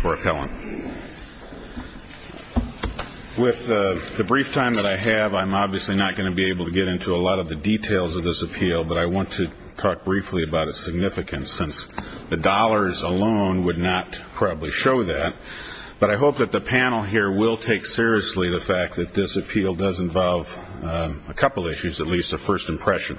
for appellant. With the brief time that I have, I'm obviously not going to be able to get into a lot of the details of this appeal, but I want to talk briefly about its significance since the dollars alone would not probably show that. But I hope that the panel here will take seriously the fact that this appeal does involve a couple of issues, at least a first impression.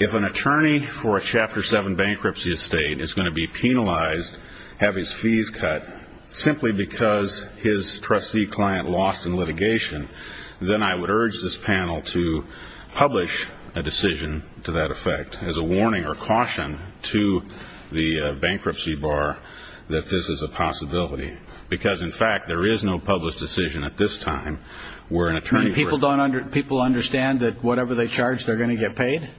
If an attorney for a Chapter 7 bankruptcy estate is going to be penalized, have his fees cut simply because his trustee client lost in litigation, then I would urge this panel to publish a decision to that effect as a warning or caution to the bankruptcy bar that this is a possibility. Because, in fact, there is no published decision at this charge they're going to get paid,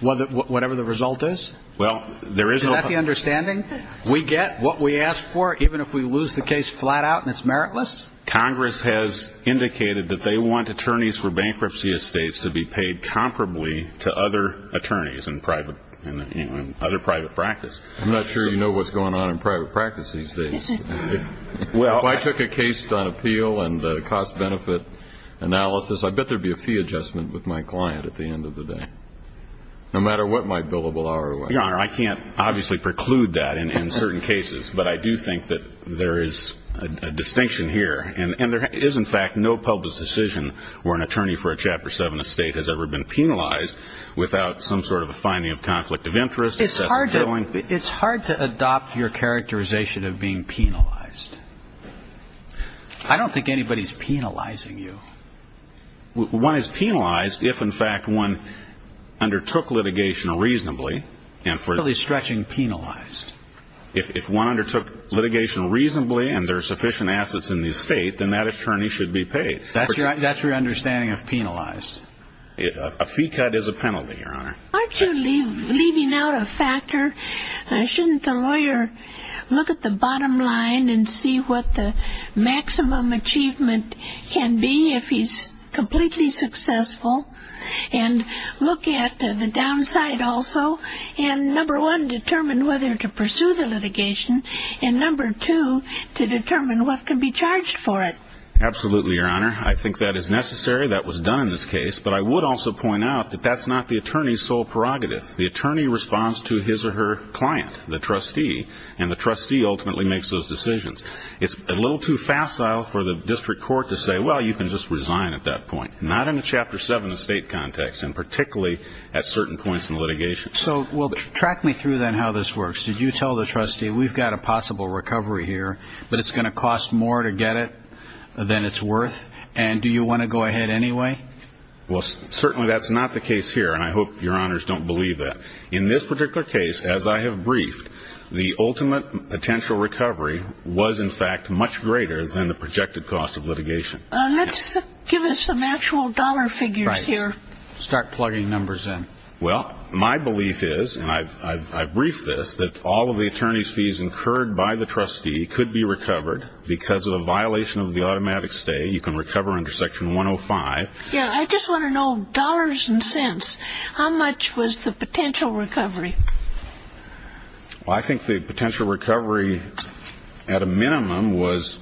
whatever the result is? Is that the understanding? We get what we ask for, even if we lose the case flat out and it's meritless? Congress has indicated that they want attorneys for bankruptcy estates to be paid comparably to other attorneys in other private practice. I'm not sure you know what's going on in private practice these days. If I took a case on appeal and cost-benefit analysis, I bet there'd be a fee adjustment with my client at the end of the day, no matter what my billable hour was. Your Honor, I can't obviously preclude that in certain cases, but I do think that there is a distinction here. And there is, in fact, no published decision where an attorney for a Chapter 7 estate has ever been penalized without some sort of a finding of conflict of interest. It's hard to adopt your characterization of being penalized. I don't think anybody's penalizing you. One is penalized if, in fact, one undertook litigation reasonably, and for Really stretching penalized. If one undertook litigation reasonably and there are sufficient assets in the estate, then that attorney should be paid. That's your understanding of penalized? A fee cut is a penalty, Your Honor. Aren't you leaving out a factor? Shouldn't the lawyer look at the bottom line and see what the maximum achievement can be if he's completely successful? And look at the downside also and, number one, determine whether to pursue the litigation, and, number two, to determine what can be charged for it. Absolutely, Your Honor. I think that is necessary. That was done in this case. But I would also point out that that's not the attorney's sole prerogative. The attorney responds to his or her client, the trustee, and the trustee ultimately makes those decisions. It's a little too facile for the district court to say, well, you can just resign at that point. Not in a Chapter 7 estate context, and particularly at certain points in litigation. So track me through, then, how this works. Did you tell the trustee, we've got a possible recovery here, but it's going to cost more to get it than it's worth, and do you want to go ahead anyway? Well, certainly that's not the case here, and I hope Your Honors don't believe that. In this particular case, as I have briefed, the ultimate potential recovery was, in fact, much greater than the projected cost of litigation. Let's give us some actual dollar figures here. Start plugging numbers in. Well, my belief is, and I've briefed this, that all of the attorney's fees incurred by the trustee could be recovered because of a violation of the automatic stay. You can recover under Section 105. Yeah, I just want to know, dollars and cents, how much was the potential recovery? Well, I think the potential recovery, at a minimum, was,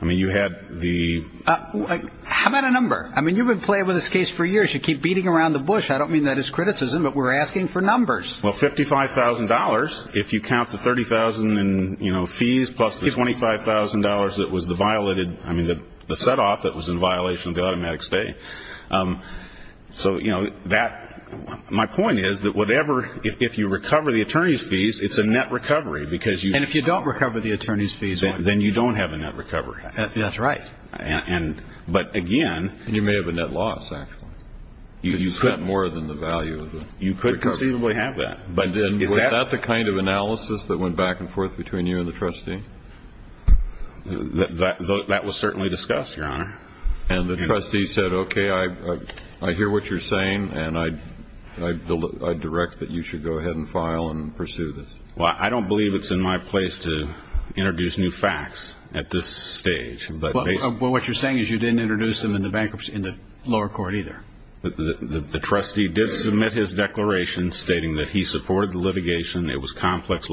I mean, you had the... How about a number? I mean, you've been playing with this case for years. You keep beating around the bush. I don't mean that as criticism, but we're asking for numbers. Well, $55,000. If you count the $30,000 in fees, plus the $25,000 that was the violated, I mean, the set-off that was in violation of the automatic stay. So, you know, that... My point is that whatever, if you recover the attorney's fees, it's a net recovery because you... And if you don't recover the attorney's fees... Then you don't have a net recovery. That's right. But again... And you may have a net loss, actually. You spent more than the value of the recovery. You could conceivably have that. But then, was that the kind of analysis that went back and forth between you and the trustee? That was certainly discussed, Your Honor. And the trustee said, okay, I hear what you're saying, and I direct that you should go ahead and file and pursue this. Well, I don't believe it's in my place to introduce new facts at this stage. But what you're saying is you didn't introduce them in the bankruptcy, in the lower court either. The trustee did submit his declaration stating that he supported the litigation. It was complex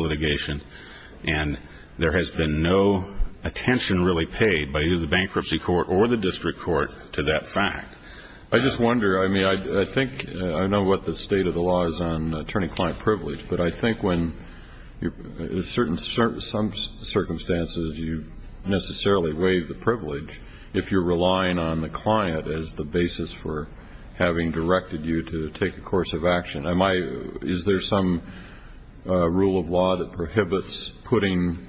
and there's been no attention really paid by either the bankruptcy court or the district court to that fact. I just wonder, I mean, I think, I know what the state of the law is on attorney-client privilege, but I think when, in certain circumstances, you necessarily waive the privilege if you're relying on the client as the basis for having directed you to take a course of action. Is there some rule of law that prohibits putting,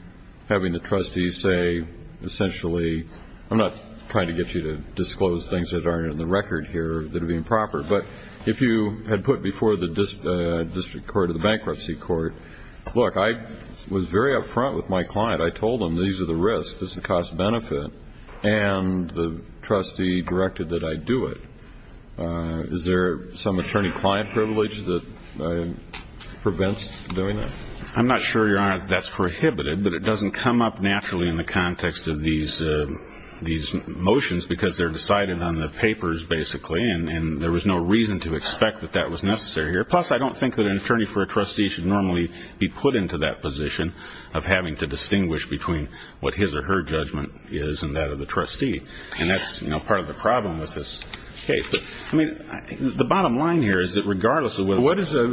having the trustee say, essentially, I'm not trying to get you to disclose things that aren't in the record here that are improper, but if you had put before the district court or the bankruptcy court, look, I was very up front with my client. I told them these are the risks, this is the cost-benefit, and the trustee directed that I do it. Is there some attorney-client privilege that prevents doing that? I'm not sure, Your Honor, that that's prohibited, but it doesn't come up naturally in the context of these motions because they're decided on the papers, basically, and there was no reason to expect that that was necessary here. Plus, I don't think that an attorney for a trustee should normally be put into that position of having to distinguish between what his or her judgment is and that of the trustee, and that's part of the problem with this case. The bottom line here is that, regardless of whether or not the client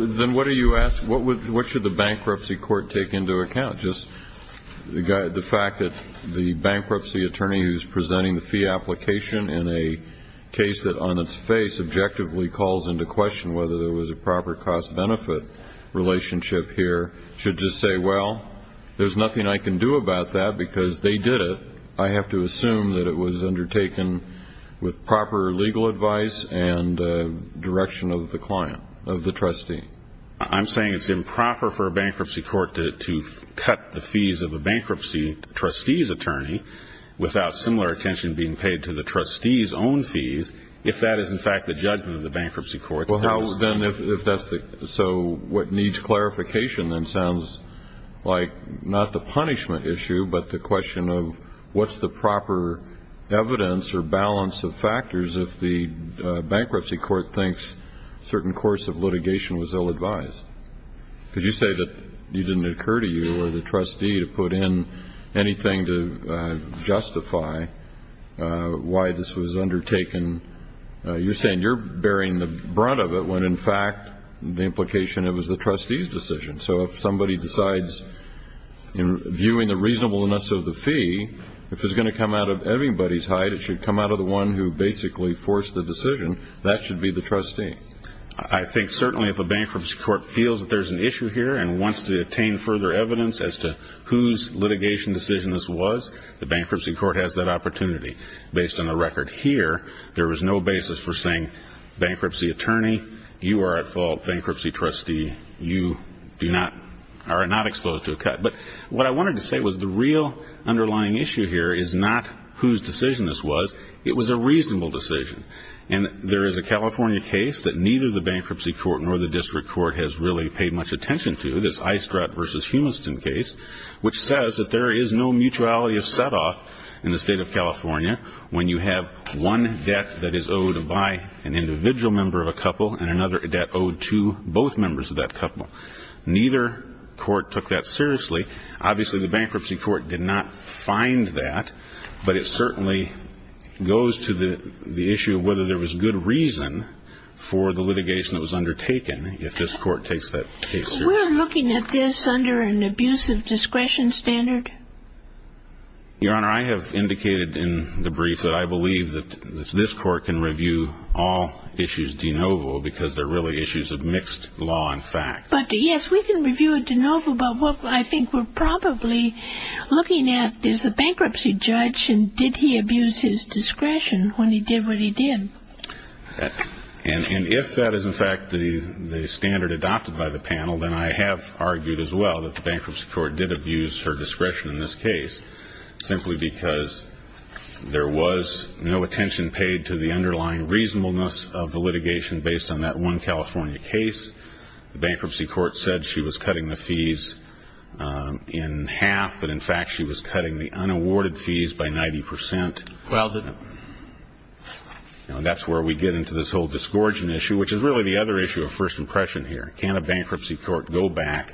is a trustee, the bankruptcy attorney who's presenting the fee application in a case that on its face objectively calls into question whether there was a proper cost-benefit relationship here should just say, well, there's nothing I can do about that because they did it. I have to assume that it was undertaken with proper legal advice and direction of the client, of the trustee. I'm saying it's improper for a bankruptcy court to cut the fees of a bankruptcy trustee's attorney without similar attention being paid to the trustee's own fees if that is, in fact, the judgment of the bankruptcy court. Well, how then if that's the, so what needs clarification then sounds like not the punishment issue, but the question of what's the proper evidence or balance of factors if the bankruptcy court thinks a certain course of litigation was ill-advised? Because you say that it didn't occur to you or the trustee to put in anything to justify why this was undertaken. You're bearing the brunt of it when, in fact, the implication of it was the trustee's decision. So if somebody decides in viewing the reasonableness of the fee, if it's going to come out of everybody's height, it should come out of the one who basically forced the decision. That should be the trustee. I think certainly if a bankruptcy court feels that there's an issue here and wants to attain further evidence as to whose litigation decision this was, the bankruptcy court has that opportunity based on the record here. There is no basis for saying bankruptcy attorney, you are at fault, bankruptcy trustee, you are not exposed to a cut. But what I wanted to say was the real underlying issue here is not whose decision this was. It was a reasonable decision. And there is a California case that neither the bankruptcy court nor the district court has really paid much attention to, this Eistratt v. Humiston case, which says that there is no mutuality of setoff in the state of California when you have one debt that is owed by an individual member of a couple and another debt owed to both members of that couple. Neither court took that seriously. Obviously, the bankruptcy court did not find that. But it certainly goes to the issue of whether there was good reason for the litigation that was undertaken if this court takes that case seriously. Are we looking at this under an abuse of discretion standard? Your Honor, I have indicated in the brief that I believe that this court can review all issues de novo because they are really issues of mixed law and fact. But, yes, we can review it de novo, but what I think we are probably looking at is the bankruptcy judge and did he abuse his discretion when he did what he did. And if that is, in fact, the standard adopted by the panel, then I have argued as well that the bankruptcy court did abuse her discretion in this case simply because there was no attention paid to the underlying reasonableness of the litigation based on that one California case. The bankruptcy court said she was cutting the fees in half, but, in fact, she was cutting the unawarded fees by 90 percent. Well, that's where we get into this whole disgorging issue, which is really the other issue of first impression here. Can a bankruptcy court go back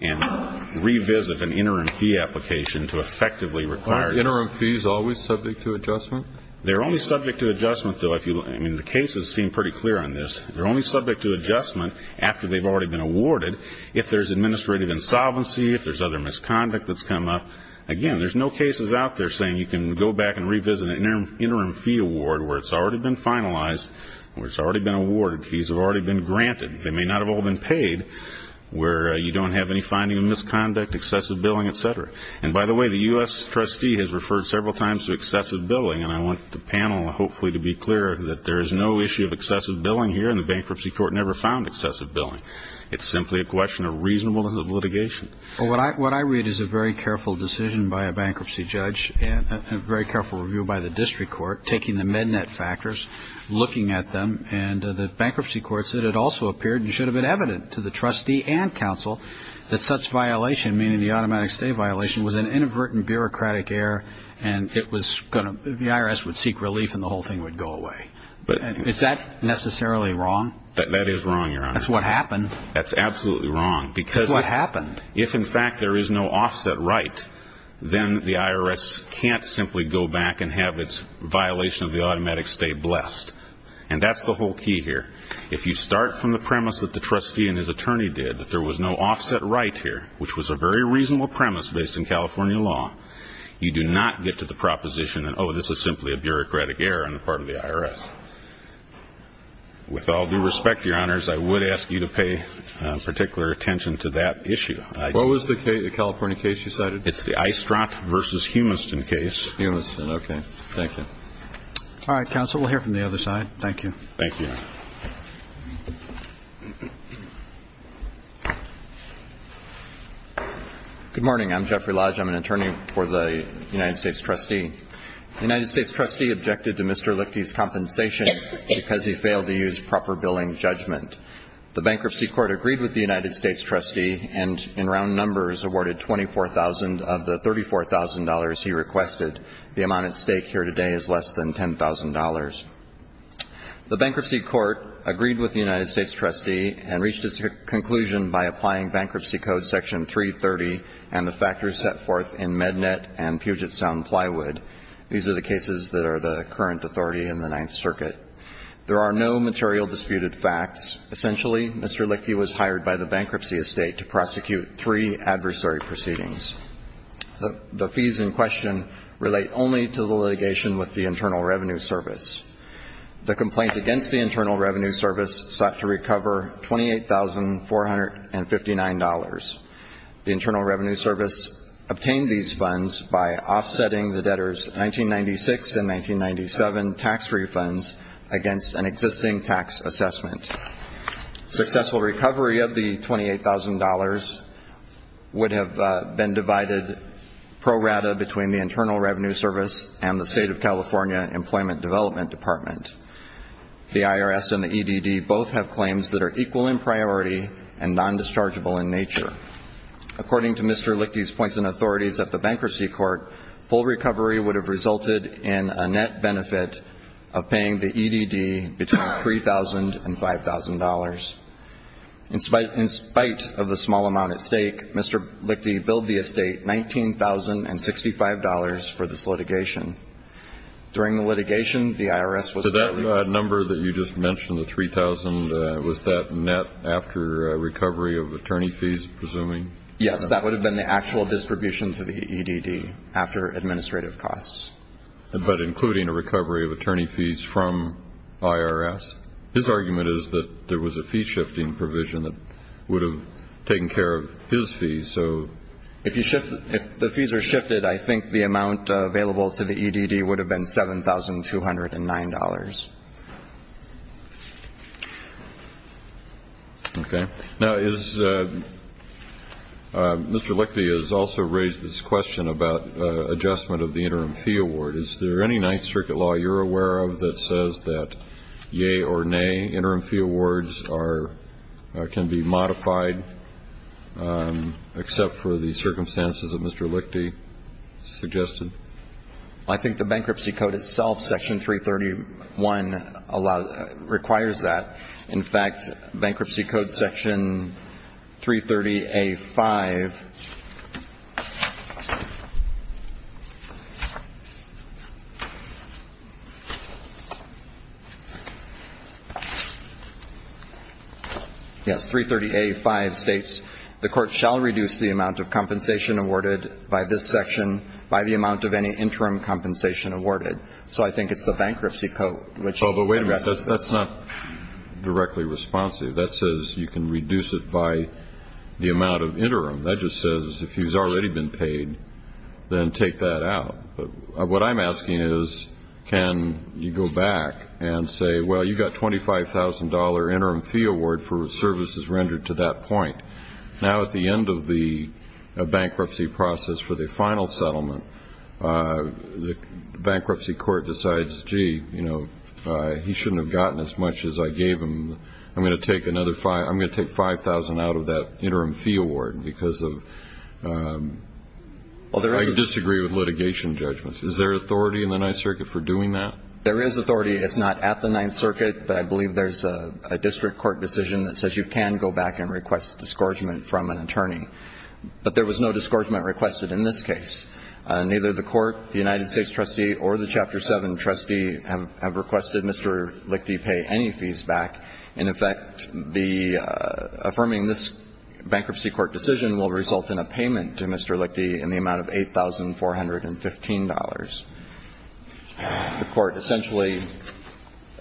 and revisit an interim fee application to effectively require it? Aren't interim fees always subject to adjustment? They are only subject to adjustment, though. I mean, the cases seem pretty clear on this. They are only subject to adjustment after they have already been awarded if there is administrative insolvency, if there is other misconduct that has come up. Again, there's no cases out there saying you can go back and revisit an interim fee award where it's already been finalized, where it's already been awarded, fees have already been granted. They may not have all been paid where you don't have any finding of misconduct, excessive billing, et cetera. And, by the way, the U.S. trustee has referred several times to excessive billing, and I want the panel, hopefully, to be clear that there is no issue of excessive billing here, and the bankruptcy court never found excessive billing. It's simply a question of reasonableness of litigation. Well, what I read is a very careful decision by a bankruptcy judge and a very careful review by the district court, taking the MedNet factors, looking at them, and the bankruptcy court said it also appeared and should have been evident to the trustee and counsel that such violation, meaning the automatic stay violation, was an inadvertent bureaucratic error, and the IRS would seek relief, and the whole thing would go away. Is that necessarily wrong? That is wrong, Your Honor. That's what happened. That's absolutely wrong. That's what happened. If, in fact, there is no offset right, then the IRS can't simply go back and have its violation of the automatic stay blessed. And that's the whole key here. If you start from the premise that the trustee and his attorney did, that there was no offset right here, which was a very reasonable premise based in California law, you do not get to the proposition that, oh, this is simply a bureaucratic error on the part of the IRS. With all due respect, Your Honors, I would ask you to pay particular attention to that issue. What was the California case you cited? It's the Eistrott v. Humiston case. Humiston. Okay. Thank you. All right, counsel. We'll hear from the other side. Thank you. Thank you. Good morning. I'm Jeffrey Lodge. I'm an attorney for the United States trustee. The United States trustee objected to Mr. Lichty's compensation because he failed to use proper billing judgment. The bankruptcy court agreed with the United States trustee and in round numbers awarded $24,000 of the $34,000 he requested. The amount at stake here today is less than $10,000. The bankruptcy court agreed with the United States trustee and reached its conclusion by applying bankruptcy code section 330 and the factors set forth in MedNet and Puget Sound Plywood. These are the cases that are the current authority in the Ninth Circuit. There are no material disputed facts. Essentially, Mr. Lichty was hired by the bankruptcy estate to prosecute three adversary proceedings. The fees in question relate only to the litigation with the Internal Revenue Service. The complaint against the Internal Revenue Service sought to recover $28,459. The Internal Revenue Service obtained these funds by offsetting the debtors' 1996 and 1997 tax refunds against an existing tax assessment. Successful recovery of the $28,000 would have been divided pro rata between the Internal Revenue Service and the State of California Employment Development Department. The IRS and the EDD both have claims that are equal in priority and non-dischargeable in nature. According to Mr. Lichty's points and authorities at the bankruptcy court, full recovery would have resulted in a net benefit of paying the EDD between $3,000 and $5,000. In spite of the small amount at stake, Mr. Lichty billed the estate $19,065 for this litigation. During the litigation, the IRS was Was that number that you just mentioned, the $3,000, was that net after recovery of attorney fees, presuming? Yes. That would have been the actual distribution to the EDD after administrative costs. But including a recovery of attorney fees from IRS? His argument is that there was a fee-shifting provision that would have taken care of his fees. If the fees are shifted, I think the amount available to the EDD would have been $7,209. Okay. Now, Mr. Lichty has also raised this question about adjustment of the interim fee award. Is there any Ninth Circuit law you're aware of that says that, yay or nay, interim fee awards can be modified except for the circumstances that Mr. Lichty suggested? I think the bankruptcy code itself, Section 331, requires that. In fact, Bankruptcy Code Section 330A-5 Yes. 330A-5 states, The court shall reduce the amount of compensation awarded by this section by the amount of any interim compensation awarded. So I think it's the bankruptcy code. Oh, but wait a minute. That's not directly responsive. That says you can reduce it by the amount of interim. That just says if he's already been paid, then take that out. What I'm asking is, can you go back and say, Well, you've got a $25,000 interim fee award for services rendered to that point. Now, at the end of the bankruptcy process for the final settlement, the bankruptcy court decides, gee, he shouldn't have gotten as much as I gave him. I'm going to take $5,000 out of that interim fee award because of I disagree with litigation judgments. Is there authority in the Ninth Circuit for doing that? There is authority. It's not at the Ninth Circuit. But I believe there's a district court decision that says you can go back and request discouragement from an attorney. But there was no discouragement requested in this case. Neither the court, the United States trustee, or the Chapter 7 trustee have requested Mr. Lichty pay any fees back. In effect, the affirming this bankruptcy court decision will result in a payment to Mr. Lichty in the amount of $8,415. The court essentially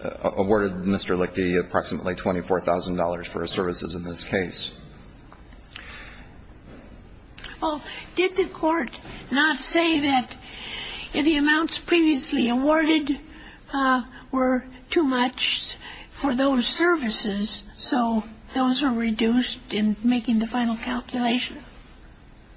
awarded Mr. Lichty approximately $24,000 for his services in this case. Well, did the court not say that the amounts previously awarded were too much for those services? So those are reduced in making the final calculation?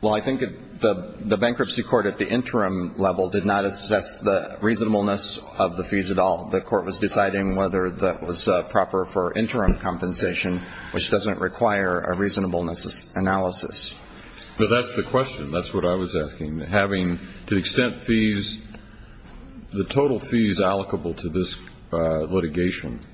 Well, I think the bankruptcy court at the interim level did not assess the reasonableness of the fees at all. The court was deciding whether that was proper for interim compensation, which doesn't require a reasonableness analysis. But that's the question. That's what I was asking. Having to the extent fees, the total fees allocable to this litigation,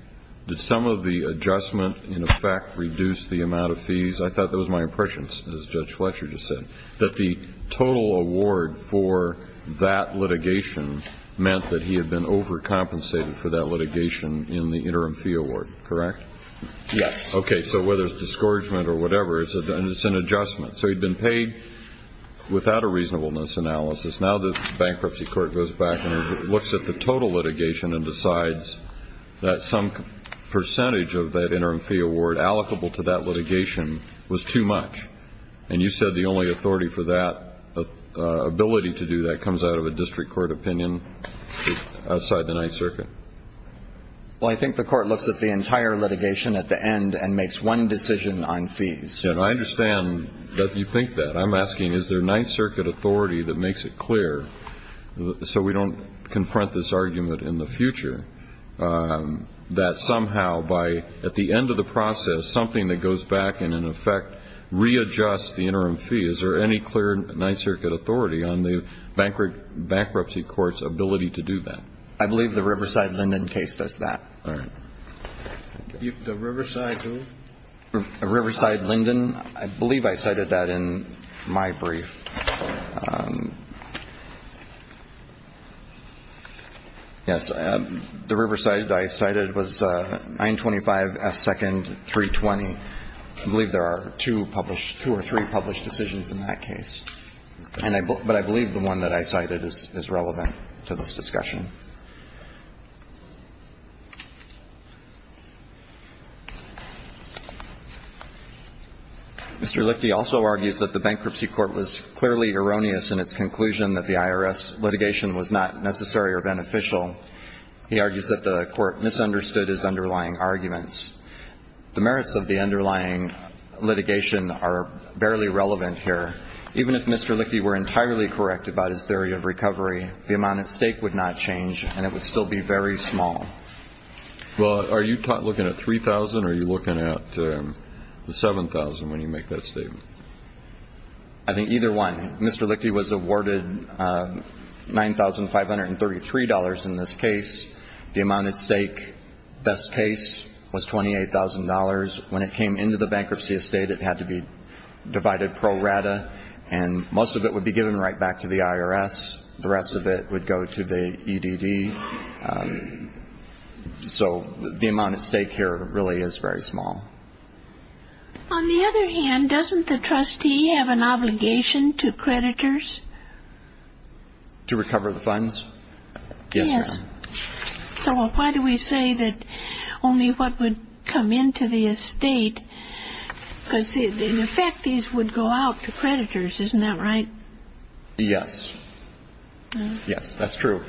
did some of the adjustment in effect reduce the amount of fees? I thought that was my impression, as Judge Fletcher just said, that the total award for that litigation meant that he had been overcompensated for that litigation in the interim fee award, correct? Yes. Okay. So whether it's discouragement or whatever, it's an adjustment. So he'd been paid without a reasonableness analysis. Now the bankruptcy court goes back and looks at the total litigation and decides that some percentage of that interim fee award allocable to that litigation was too much. And you said the only authority for that ability to do that comes out of a district court opinion outside the Ninth Circuit. Well, I think the court looks at the entire litigation at the end and makes one decision on fees. I understand that you think that. I'm asking is there Ninth Circuit authority that makes it clear, so we don't confront this argument in the future, that somehow at the end of the process something that goes back and in effect readjusts the interim fee? Is there any clear Ninth Circuit authority on the bankruptcy court's ability to do that? I believe the Riverside-Lyndon case does that. All right. The Riverside who? Riverside-Lyndon. I believe I cited that in my brief. Yes. The Riverside I cited was 925S2-320. I believe there are two published or three published decisions in that case. But I believe the one that I cited is relevant to this discussion. Mr. Lichte also argues that the bankruptcy court was clearly erroneous in its conclusion that the IRS litigation was not necessary or beneficial. He argues that the court misunderstood his underlying arguments. The merits of the underlying litigation are barely relevant here. Even if Mr. Lichte were entirely correct about his theory of recovery, the amount at stake would not change. And it would still be very small. Well, are you looking at $3,000 or are you looking at the $7,000 when you make that statement? I think either one. Mr. Lichte was awarded $9,533 in this case. The amount at stake, best case, was $28,000. When it came into the bankruptcy estate, it had to be divided pro rata. And most of it would be given right back to the IRS. The rest of it would go to the EDD. So the amount at stake here really is very small. On the other hand, doesn't the trustee have an obligation to creditors? To recover the funds? Yes, ma'am. So why do we say that only what would come into the estate? Because, in effect, these would go out to creditors, isn't that right? Yes. Yes, that's true.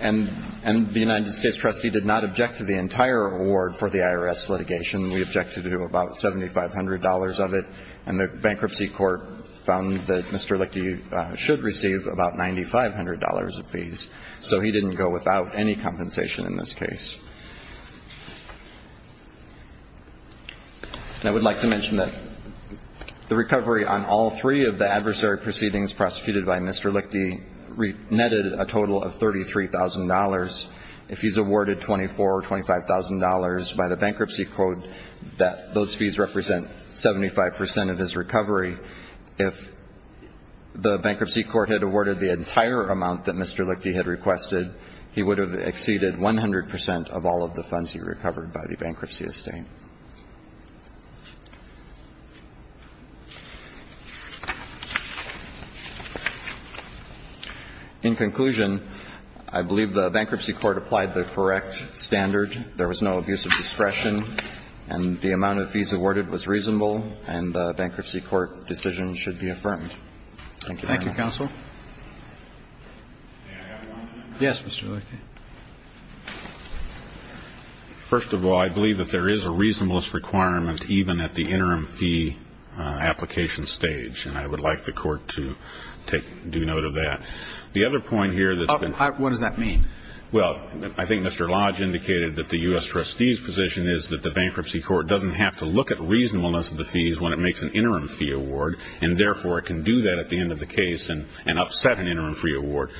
And the United States trustee did not object to the entire award for the IRS litigation. We objected to about $7,500 of it. And the bankruptcy court found that Mr. Lichte should receive about $9,500 of fees. So he didn't go without any compensation in this case. And I would like to mention that the recovery on all three of the adversary proceedings prosecuted by Mr. Lichte netted a total of $33,000. If he's awarded $24,000 or $25,000 by the bankruptcy court, those fees represent 75 percent of his recovery. If the bankruptcy court had awarded the entire amount that Mr. Lichte had requested, he would have exceeded 100 percent of all of the funds he recovered by the bankruptcy estate. In conclusion, I believe the bankruptcy court applied the correct standard. There was no abuse of discretion, and the amount of fees awarded was reasonable, and the bankruptcy court decision should be affirmed. Thank you, Your Honor. Thank you, counsel. May I have one? Yes, Mr. Lichte. First of all, I believe that there is a reasonableness requirement even at the interim fee application stage, and I would like the court to take due note of that. The other point here that's been ---- What does that mean? Well, I think Mr. Lodge indicated that the U.S. trustee's position is that the bankruptcy court doesn't have to look at reasonableness of the fees when it makes an interim fee award, and therefore it can do that at the end of the case and upset an interim fee award.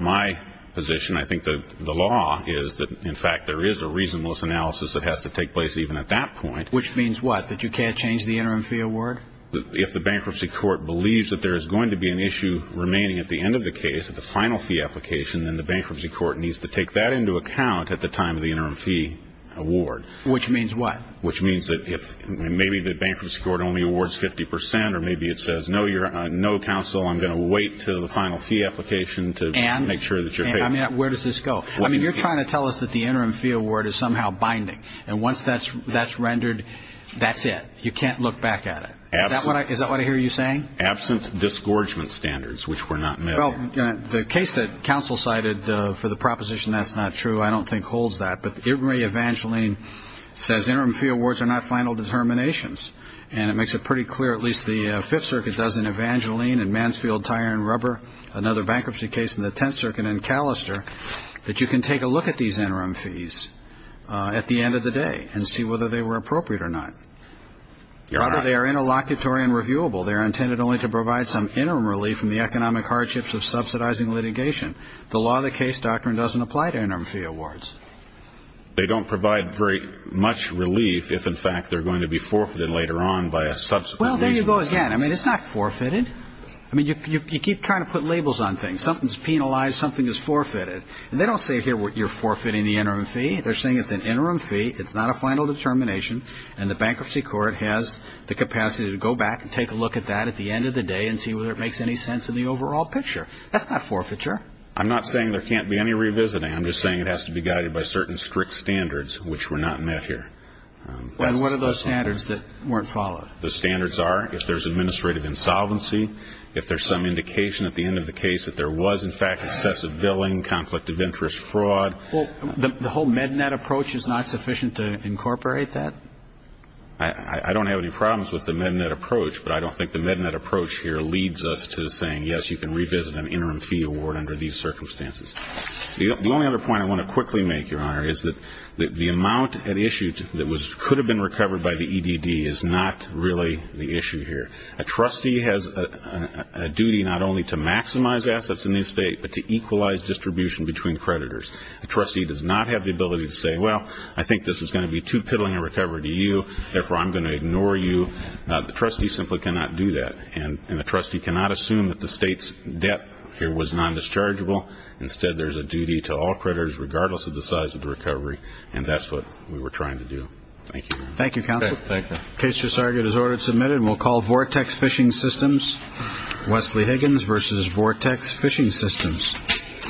My position, I think the law is that, in fact, there is a reasonableness analysis that has to take place even at that point. Which means what? That you can't change the interim fee award? If the bankruptcy court believes that there is going to be an issue remaining at the end of the case at the final fee application, then the bankruptcy court needs to take that into account at the time of the interim fee award. Which means what? Which means that maybe the bankruptcy court only awards 50 percent, or maybe it says, no, counsel, I'm going to wait until the final fee application to make sure that you're paid. And where does this go? I mean, you're trying to tell us that the interim fee award is somehow binding, and once that's rendered, that's it. You can't look back at it. Is that what I hear you saying? Absent disgorgement standards, which were not met. Well, the case that counsel cited for the proposition that's not true, I don't think holds that. But it may, Evangeline, says interim fee awards are not final determinations. And it makes it pretty clear, at least the Fifth Circuit doesn't, Evangeline, and Mansfield, Tyre and Rubber, another bankruptcy case in the Tenth Circuit, and Callister, that you can take a look at these interim fees at the end of the day and see whether they were appropriate or not. You're right. Rather, they are interlocutory and reviewable. They are intended only to provide some interim relief from the economic hardships of subsidizing litigation. The law of the case doctrine doesn't apply to interim fee awards. They don't provide very much relief if, in fact, they're going to be forfeited later on by a subsequent reason. Well, there you go again. I mean, it's not forfeited. I mean, you keep trying to put labels on things. Something's penalized. Something is forfeited. And they don't say here you're forfeiting the interim fee. They're saying it's an interim fee, it's not a final determination, and the bankruptcy court has the capacity to go back and take a look at that at the end of the day and see whether it makes any sense in the overall picture. That's not forfeiture. I'm not saying there can't be any revisiting. I'm just saying it has to be guided by certain strict standards which were not met here. And what are those standards that weren't followed? The standards are if there's administrative insolvency, if there's some indication at the end of the case that there was, in fact, excessive billing, conflict of interest, fraud. Well, the whole MedNet approach is not sufficient to incorporate that? I don't have any problems with the MedNet approach, but I don't think the MedNet approach here leads us to saying, yes, you can revisit an interim fee award under these circumstances. The only other point I want to quickly make, Your Honor, is that the amount at issue that could have been recovered by the EDD is not really the issue here. A trustee has a duty not only to maximize assets in the estate, but to equalize distribution between creditors. A trustee does not have the ability to say, well, I think this is going to be too piddling a recovery to you, therefore I'm going to ignore you. The trustee simply cannot do that, and the trustee cannot assume that the state's debt here was non-dischargeable. Instead, there's a duty to all creditors, regardless of the size of the recovery, and that's what we were trying to do. Thank you, Your Honor. Thank you, Counselor. Okay. Thank you. The case just argued as ordered and submitted, and we'll call Vortex Fishing Systems. Wesley Higgins versus Vortex Fishing Systems. Vortex Fishing Systems. Vortex Fishing Systems. Vortex Fishing Systems.